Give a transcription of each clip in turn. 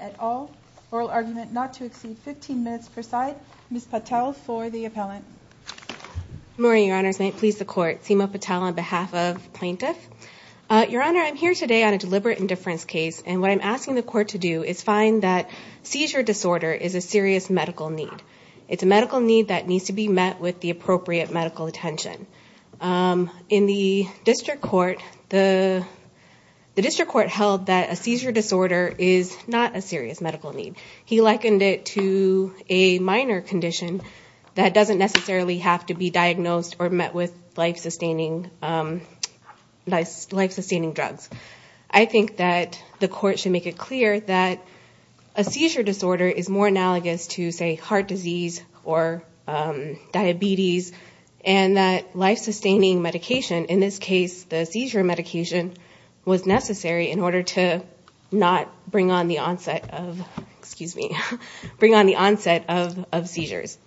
at all. Oral argument not to exceed 15 minutes per side. Ms. Patel for the appellant. Good morning, your honors. May it please the court, Seema Patel on behalf of plaintiff. Your honor, I'm here today on a deliberate indifference case and what I'm asking the court to do is find that seizure disorder is a serious medical need. It's a medical need that needs to be met with the appropriate medical attention. In the district court, the district court held that a seizure disorder is not a serious medical need. He likened it to a minor condition that doesn't necessarily have to be diagnosed or met with life sustaining drugs. I think that the court should make it clear that a seizure disorder is more analogous to heart disease or diabetes and that life sustaining medication, in this case the seizure medication was necessary in order to not bring on the onset of seizures.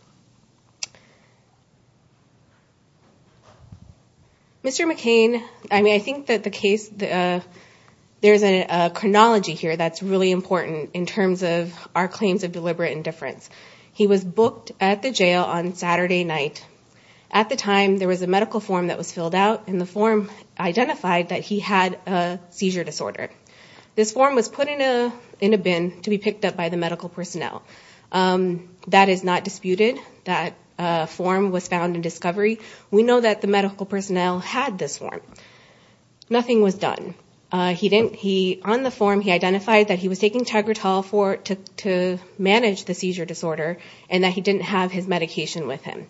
Mr. McCain, I think that the case, there's a chronology here that's really important in terms of our claims of deliberate indifference. He was booked at the jail on Saturday night. At the time, there was a medical form that was filled out and the form identified that he had a seizure disorder. This form was put in a bin to be picked up by the medical personnel. That is not disputed. That form was found in discovery. We know that the medical personnel had this form. Nothing was done. He didn't, he, on the form he identified that he was taking managed the seizure disorder and that he didn't have his medication with him.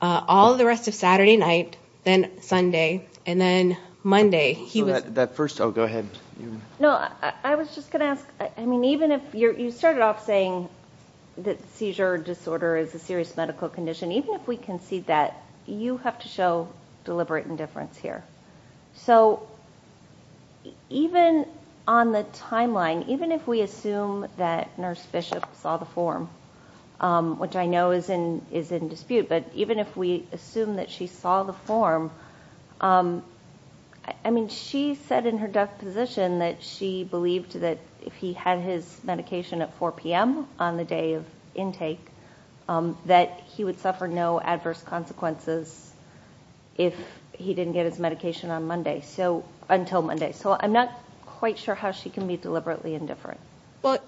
All the rest of Saturday night, then Sunday, and then Monday, he was- That first, oh, go ahead. No, I was just going to ask, I mean, even if you started off saying that seizure disorder is a serious medical condition, even if we concede that, you have to show deliberate indifference here. So even on the timeline, even if we assume that Nurse Bishop saw the form, which I know is in dispute, but even if we assume that she saw the form, I mean, she said in her death position that she believed that if he had his medication at 4 p.m. on the day of intake, that he would suffer no adverse consequences if he didn't get his medication on Monday, so, until Monday. I'm not quite sure how she can be deliberately indifferent. Well,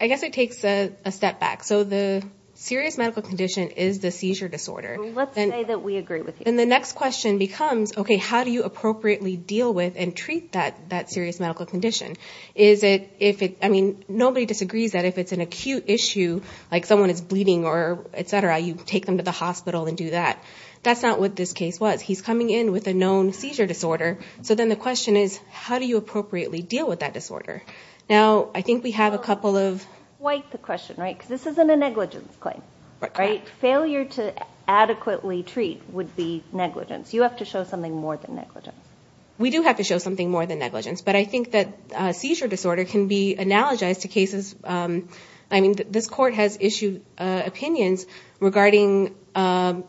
I guess it takes a step back. So the serious medical condition is the seizure disorder. Let's say that we agree with you. And the next question becomes, okay, how do you appropriately deal with and treat that serious medical condition? Is it, I mean, nobody disagrees that if it's an acute issue, like someone is bleeding or et cetera, you take them to the hospital and do that. That's not what this case was. He's coming in with a known seizure disorder. So then the question is, how do you appropriately deal with that disorder? Now, I think we have a couple of... Quite the question, right? Because this isn't a negligence claim, right? Failure to adequately treat would be negligence. You have to show something more than negligence. We do have to show something more than negligence, but I think that seizure disorder can be analogized to cases, I mean, this court has issued opinions regarding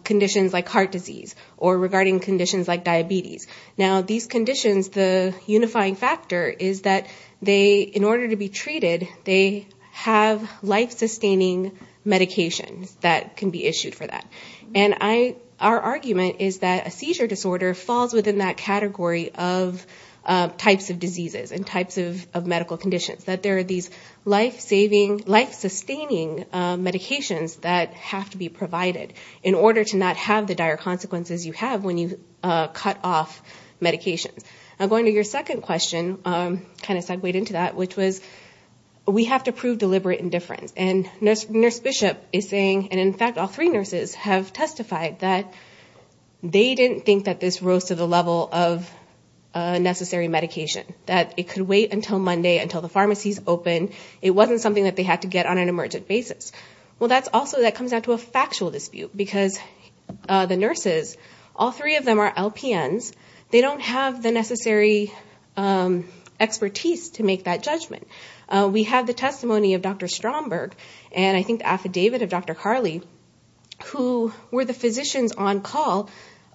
conditions like heart disease or regarding conditions like diabetes. Now these conditions, the unifying factor is that they, in order to be treated, they have life-sustaining medications that can be issued for that. And our argument is that a seizure disorder falls within that category of types of diseases and types of medical conditions, that there are these life-saving, life-sustaining medications that have to be provided in order to not have the dire consequences you have when you cut off medications. Now, going to your second question, kind of segued into that, which was, we have to prove deliberate indifference. And Nurse Bishop is saying, and in fact all three nurses have testified that they didn't think that this rose to the level of necessary medication, that it could wait until Monday, until the pharmacies open. It wasn't something that they had to get on an emergent basis. Well, that's also, that comes down to a factual dispute because the nurses, all three of them are LPNs, they don't have the necessary expertise to make that judgment. We have the testimony of Dr. Stromberg, and I think the affidavit of Dr. Carley, who were the physicians on call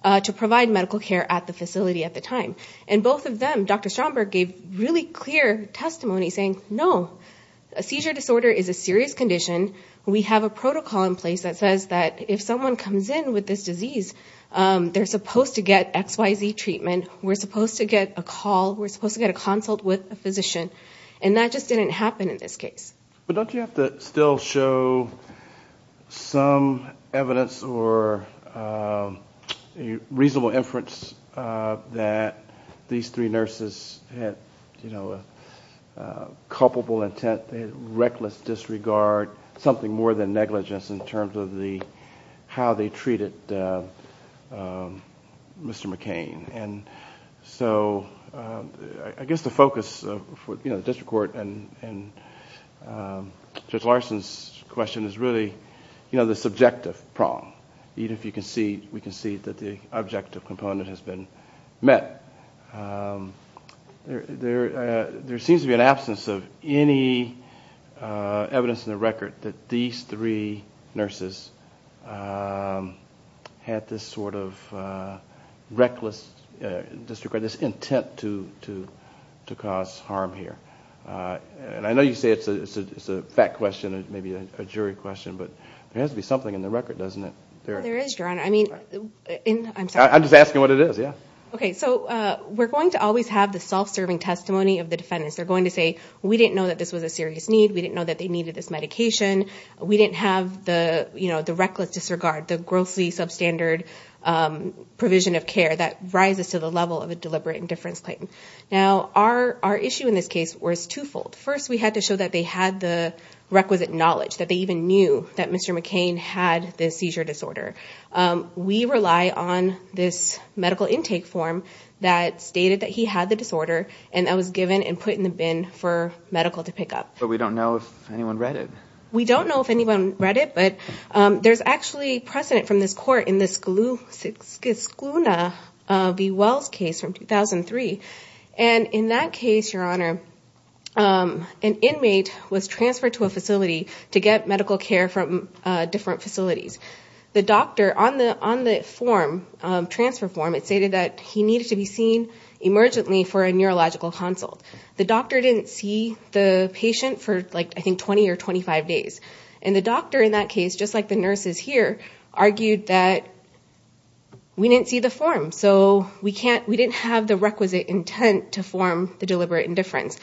to provide medical care at the facility at the time. And both of them, Dr. Stromberg gave really clear testimony saying, no, a disorder is a serious condition. We have a protocol in place that says that if someone comes in with this disease, they're supposed to get XYZ treatment, we're supposed to get a call, we're supposed to get a consult with a physician. And that just didn't happen in this case. But don't you have to still show some evidence or a reasonable inference that these three plaintiffs disregard something more than negligence in terms of how they treated Mr. McCain? And so, I guess the focus for the district court and Judge Larson's question is really the subjective prong, even if we can see that the objective component has been met. There seems to be an absence of any evidence in the record that these three nurses had this sort of reckless disregard, this intent to cause harm here. And I know you say it's a fact question, maybe a jury question, but there has to be something in the record, doesn't Well, there is, Your Honor. I mean, I'm sorry. I'm just asking what it is, yeah. Okay, so we're going to always have the self-serving testimony of the defendants. They're going to say, we didn't know that this was a serious need, we didn't know that they needed this medication, we didn't have the reckless disregard, the grossly substandard provision of care that rises to the level of a deliberate indifference claim. Now, our issue in this case was twofold. First, we had to show that they had the requisite knowledge, that they even knew that Mr. McCain had the seizure disorder. We rely on this medical intake form that stated that he had the disorder and that was given and put in the bin for medical to pick up. But we don't know if anyone read it. We don't know if anyone read it, but there's actually precedent from this court in this Skluna v. Wells case from 2003. And in that case, Your Honor, an inmate was transferred to a facility to get medical care from different facilities. The doctor on the transfer form, stated that he needed to be seen emergently for a neurological consult. The doctor didn't see the patient for, I think, 20 or 25 days. And the doctor in that case, just like the nurses here, argued that we didn't see the form, so we didn't have the requisite intent to form the deliberate indifference.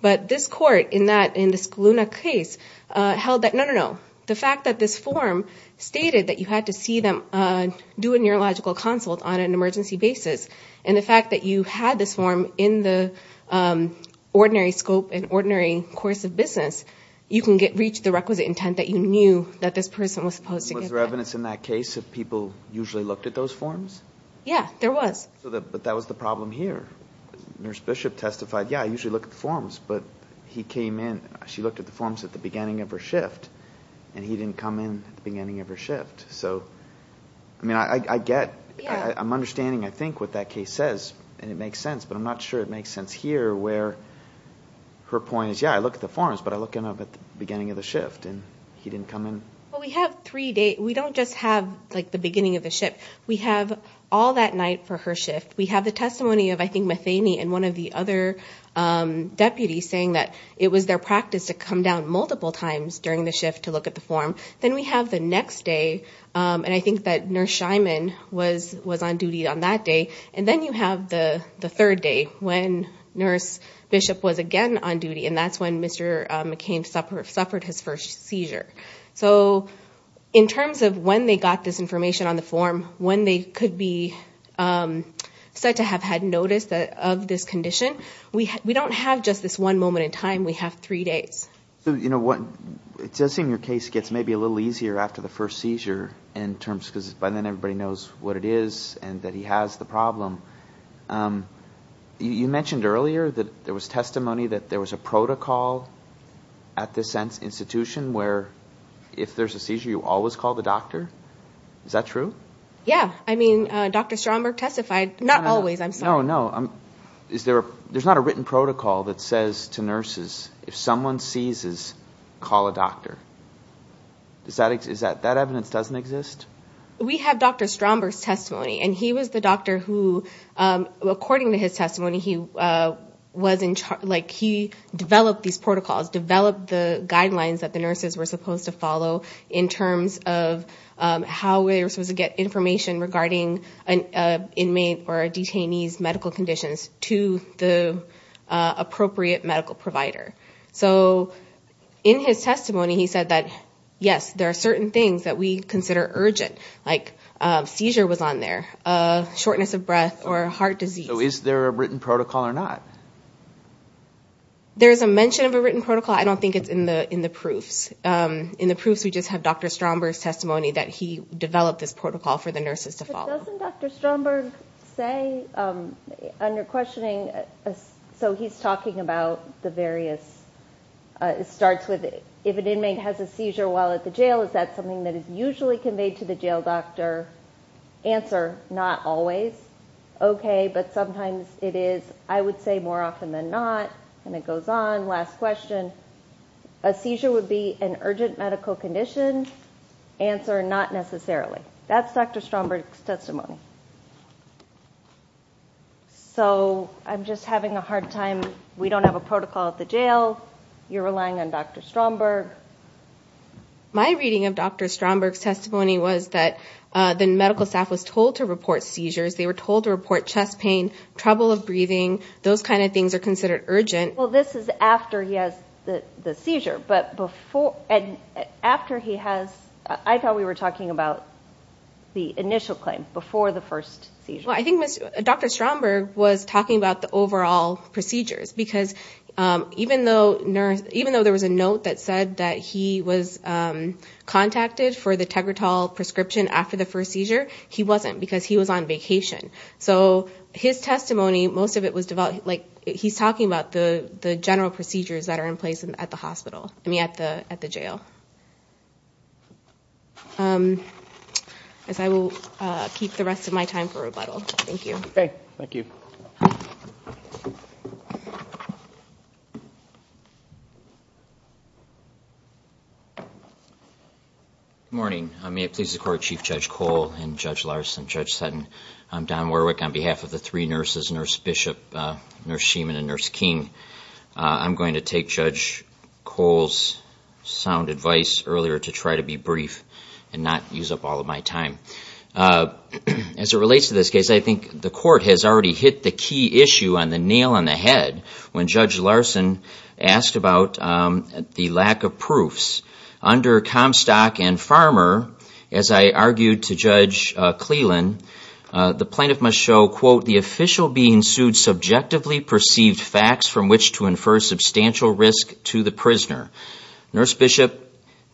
But this court in the Skluna case held that, no, no, no, the fact that this form stated that you had to see them, do a neurological consult on an emergency basis, and the fact that you had this form in the ordinary scope and ordinary course of business, you can reach the requisite intent that you knew that this person was supposed to get that. Was there evidence in that case that people usually looked at those forms? Yeah, there was. But that was the problem here. Nurse Bishop testified, yeah, I usually look at the forms, but he came in, she looked at the forms at the beginning of her shift, and he didn't come in at the beginning of her shift. So, I mean, I get, I'm understanding, I think, what that case says, and it makes sense, but I'm not sure it makes sense here, where her point is, yeah, I look at the forms, but I look at them at the beginning of the shift, and he didn't come in. Well, we have three days, we don't just have, like, the beginning of the shift. We have all that night for her shift. We have the testimony of, I think, Methaney and one of the other deputies saying that it was their practice to come down multiple times during the shift to look at the form. Then we have the next day, and I think that Nurse Scheinman was on duty on that day. And then you have the third day, when Nurse Bishop was again on duty, and that's when Mr. McCain suffered his first seizure. So, in terms of when they got this information on the form, when they could be said to have had notice of this condition, we don't have just this one moment in time, we have three days. So, you know, it does seem your case gets maybe a little easier after the first seizure in terms, because by then everybody knows what it is and that he has the problem. You mentioned earlier that there was testimony that there was a protocol at this institution where if there's a seizure, you always call the doctor. Is that true? Yeah. I mean, Dr. Stromberg testified, not always, I'm sorry. No, no, no. There's not a written protocol that says to nurses, if someone seizes, call a doctor. Does that exist? That evidence doesn't exist? We have Dr. Stromberg's testimony, and he was the doctor who, according to his testimony, he developed these protocols, developed the guidelines that the nurses were supposed to follow in terms of how they were supposed to get information regarding an inmate or detainee's medical conditions to the appropriate medical provider. So in his testimony, he said that, yes, there are certain things that we consider urgent, like a seizure was on there, a shortness of breath, or a heart disease. So is there a written protocol or not? There's a mention of a written protocol. I don't think it's in the proofs. In the proofs, we just have Dr. Stromberg's testimony that he developed this protocol for the nurses to follow. Doesn't Dr. Stromberg say, under questioning, so he's talking about the various, it starts with, if an inmate has a seizure while at the jail, is that something that is usually conveyed to the jail doctor? Answer, not always. Okay, but sometimes it is, I would say more often than not, and it goes on, last question. A seizure would be an urgent medical condition? Answer, not necessarily. That's Dr. Stromberg's testimony. So I'm just having a hard time. We don't have a protocol at the jail. You're relying on Dr. Stromberg. My reading of Dr. Stromberg's testimony was that the medical staff was told to report seizures. They were told to report chest pain, trouble of breathing. Those kind of things are considered urgent. Well, this is after he has the seizure, but before, and after he has, I thought we were talking about the initial claim, before the first seizure. Well, I think Dr. Stromberg was talking about the overall procedures, because even though there was a note that said that he was contacted for the Tegretol prescription after the first seizure, he wasn't, because he was on vacation. So his testimony, most of it was, he's talking about the general procedures that are in place at the hospital, I mean, at the jail. I will keep the rest of my time for rebuttal. Thank you. Okay. Thank you. Good morning. May it please the Court, Chief Judge Cole and Judge Larson, Judge Sutton. I'm Don Warwick on behalf of the three nurses, Nurse Bishop, Nurse Sheeman, and Nurse King. I'm going to take Judge Cole's sound advice earlier to try to be brief and not use up all of my time. As it relates to this case, I think the Court has already hit the key issue on the nail on the head when Judge Larson asked about the lack of proofs. Under Comstock and Farmer, as I argued to Judge Cleland, the plaintiff must show, quote, the official being sued subjectively perceived facts from which to infer substantial risk to the prisoner. Nurse Bishop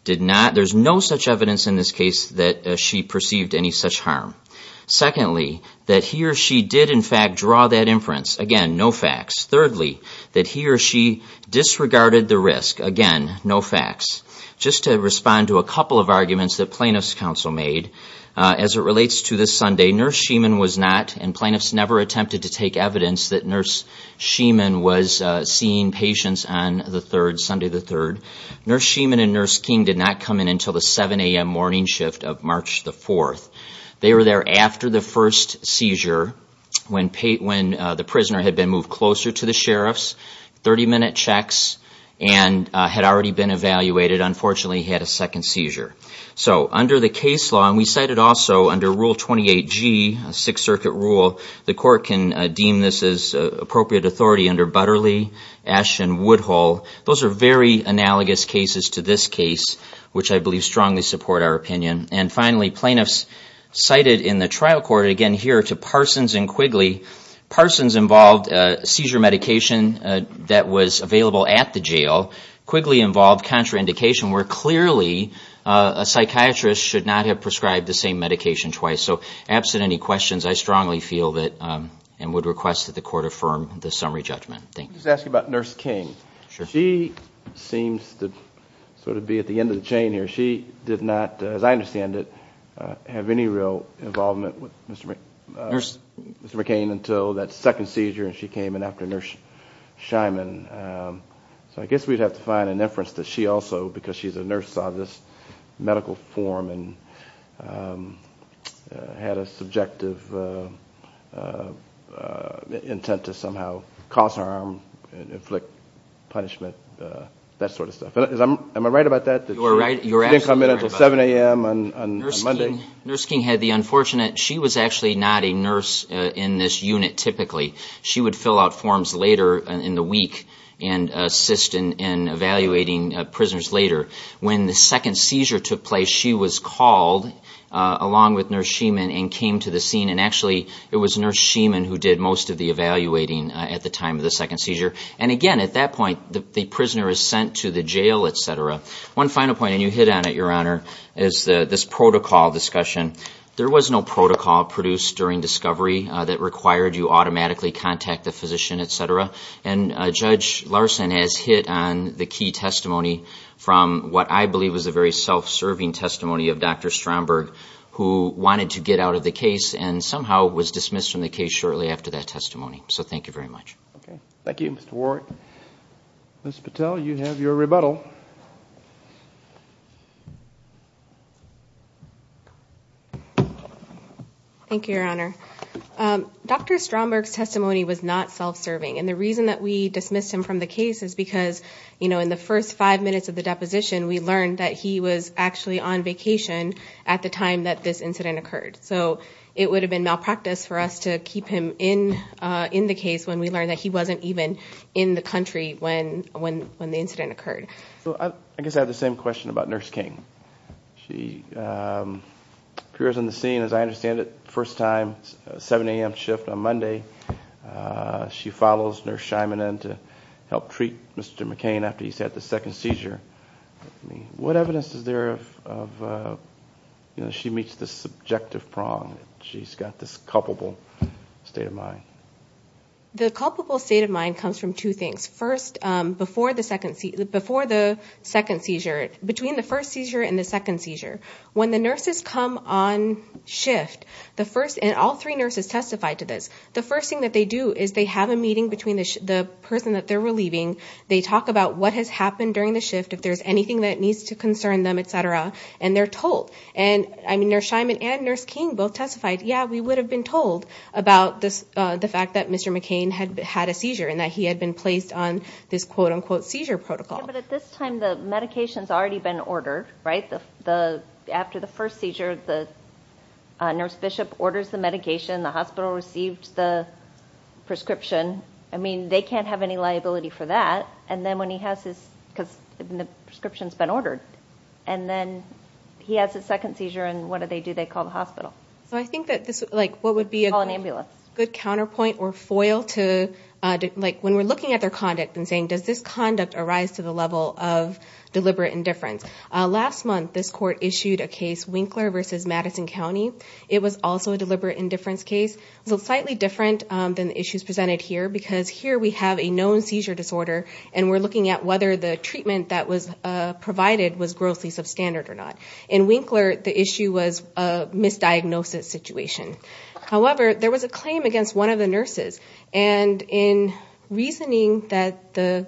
did not. There's no such evidence in this case that she perceived any such harm. Secondly, that he or she did in fact draw that inference. Again, no facts. Thirdly, that he or she disregarded the risk. Again, no facts. Just to respond to a couple of arguments that plaintiff's counsel made, as it relates to this Sunday, Nurse Sheeman was not and plaintiffs never attempted to take evidence that Nurse Sheeman was seeing patients on the 3rd, Sunday the 3rd. Nurse Sheeman and Nurse King did not come in until the 7am morning shift of March the 4th. They were there after the first seizure when the prisoner had been moved closer to the sheriffs, 30-minute checks, and had already been evaluated. Unfortunately, he had a second seizure. So, under the case law, and we cited also under Rule 28G, a Sixth Circuit rule, the court can deem this as appropriate authority under Butterly, Asch, and Woodhull. Those are very analogous cases to this case, which I believe strongly support our opinion. And finally, plaintiffs cited in the trial court, again here to Parsons and Quigley, Parsons involved seizure medication that was available at the jail. Quigley involved contraindication where clearly a psychiatrist should not have prescribed the same medication twice. So, absent any questions, I strongly feel that and would request that the court affirm the summary judgment. Let me just ask you about Nurse King. She seems to be at the end of the chain here. She did not, as I understand it, have any real involvement with Mr. McCain until that second seizure and she came in after Nurse Sheeman. So, I guess we would have to find an inference that she also, because she's a nurse, saw this medical form and had a subjective intent to somehow cause harm, inflict punishment, that sort of stuff. Am I right about that? You're absolutely right about that. She didn't come in until 7 a.m. on Monday? Nurse King had the unfortunate, she was actually not a nurse in this unit typically. She would be evaluating prisoners later. When the second seizure took place, she was called along with Nurse Sheeman and came to the scene. And actually, it was Nurse Sheeman who did most of the evaluating at the time of the second seizure. And again, at that point, the prisoner is sent to the jail, etc. One final point, and you hit on it, Your Honor, is this protocol discussion. There was no protocol produced during discovery that required you automatically contact the physician, etc. And Judge Larson has hit on the key testimony from what I believe was a very self-serving testimony of Dr. Stromberg, who wanted to get out of the case and somehow was dismissed from the case shortly after that testimony. So, thank you very much. Thank you, Mr. Warwick. Ms. Patel, you have your rebuttal. Thank you, Your Honor. Dr. Stromberg's testimony was not self-serving. And the reason that we dismissed him from the case is because, you know, in the first five minutes of the deposition, we learned that he was actually on vacation at the time that this incident occurred. So, it would have been malpractice for us to keep him in the case when we learned that he wasn't even in the country when the incident occurred. I guess I have the same question about Nurse King. She appears on the scene, as I understand it, first time, 7 a.m. shift on Monday. She follows Nurse Scheiman in to help treat Mr. McCain after he's had the second seizure. What evidence is there of, you know, she meets the subjective prong? She's got this culpable state of mind. The culpable state of mind comes from two things. First, before the second seizure, between the first seizure and the second seizure. When the nurses come on shift, the first, and all three nurses testified to this, the first thing that they do is they have a meeting between the person that they're relieving. They talk about what has happened during the shift, if there's anything that needs to concern them, et cetera, and they're told. And, I mean, Nurse Scheiman and Nurse King both testified, yeah, we would have been told about this, the fact that Mr. McCain had had a seizure and that he had been placed on this, quote unquote, seizure protocol. Yeah, but at this time, the medication's already been ordered, right? After the first seizure, the nurse bishop orders the medication, the hospital received the prescription. I mean, they can't have any liability for that. And then when he has his, because the prescription's been ordered, and then he has his second seizure, and what do they do? They call the hospital. So I think that this, like, what would be a good- Call an ambulance. Good counterpoint or foil to, like, when we're looking at their conduct and saying, does this conduct arise to the level of deliberate indifference? Last month, this court issued a case, Winkler v. Madison County. It was also a deliberate indifference case. It was slightly different than the issues presented here, because here we have a known seizure disorder, and we're looking at whether the treatment that was provided was grossly substandard or not. In Winkler, the issue was a misdiagnosis situation. However, there was a claim against one of the nurses, and in reasoning that the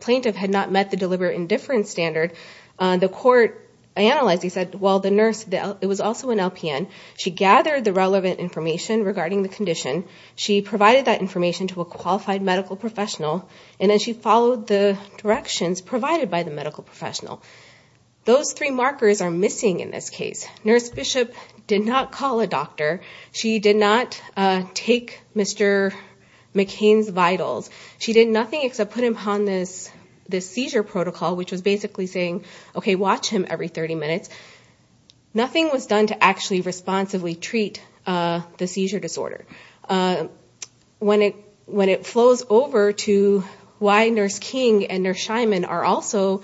plaintiff had not met the deliberate indifference standard, the court analyzed. He said, well, the nurse, it was also an LPN. She gathered the relevant information regarding the condition. She provided that information to a qualified medical professional, and then she followed the directions provided by the medical professional. Those three markers are missing in this case. Nurse Bishop did not call a doctor. She did not take Mr. McCain's vitals. She did nothing except put him on this seizure protocol, which was basically saying, okay, watch him every 30 minutes. Nothing was done to actually responsibly treat the seizure disorder. When it flows over to why Nurse King and Nurse Scheinman are also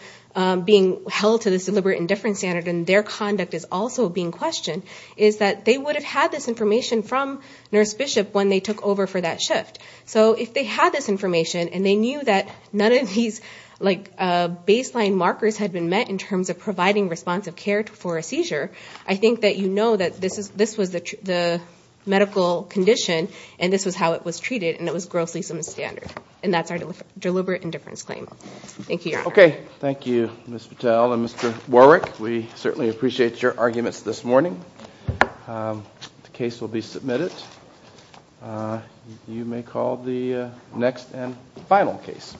being held to this deliberate indifference standard and their conduct is also being questioned, is that they would have had this information from Nurse Bishop when they took over for that shift. If they had this information and they knew that none of these baseline markers had been met in terms of providing responsive care for a seizure, I think that you know that this was the medical condition, and this was how it was treated, and it was grossly indifference claim. Thank you, Your Honor. Okay. Thank you, Ms. Patel and Mr. Warwick. We certainly appreciate your arguments this morning. The case will be submitted. You may call the next and final case.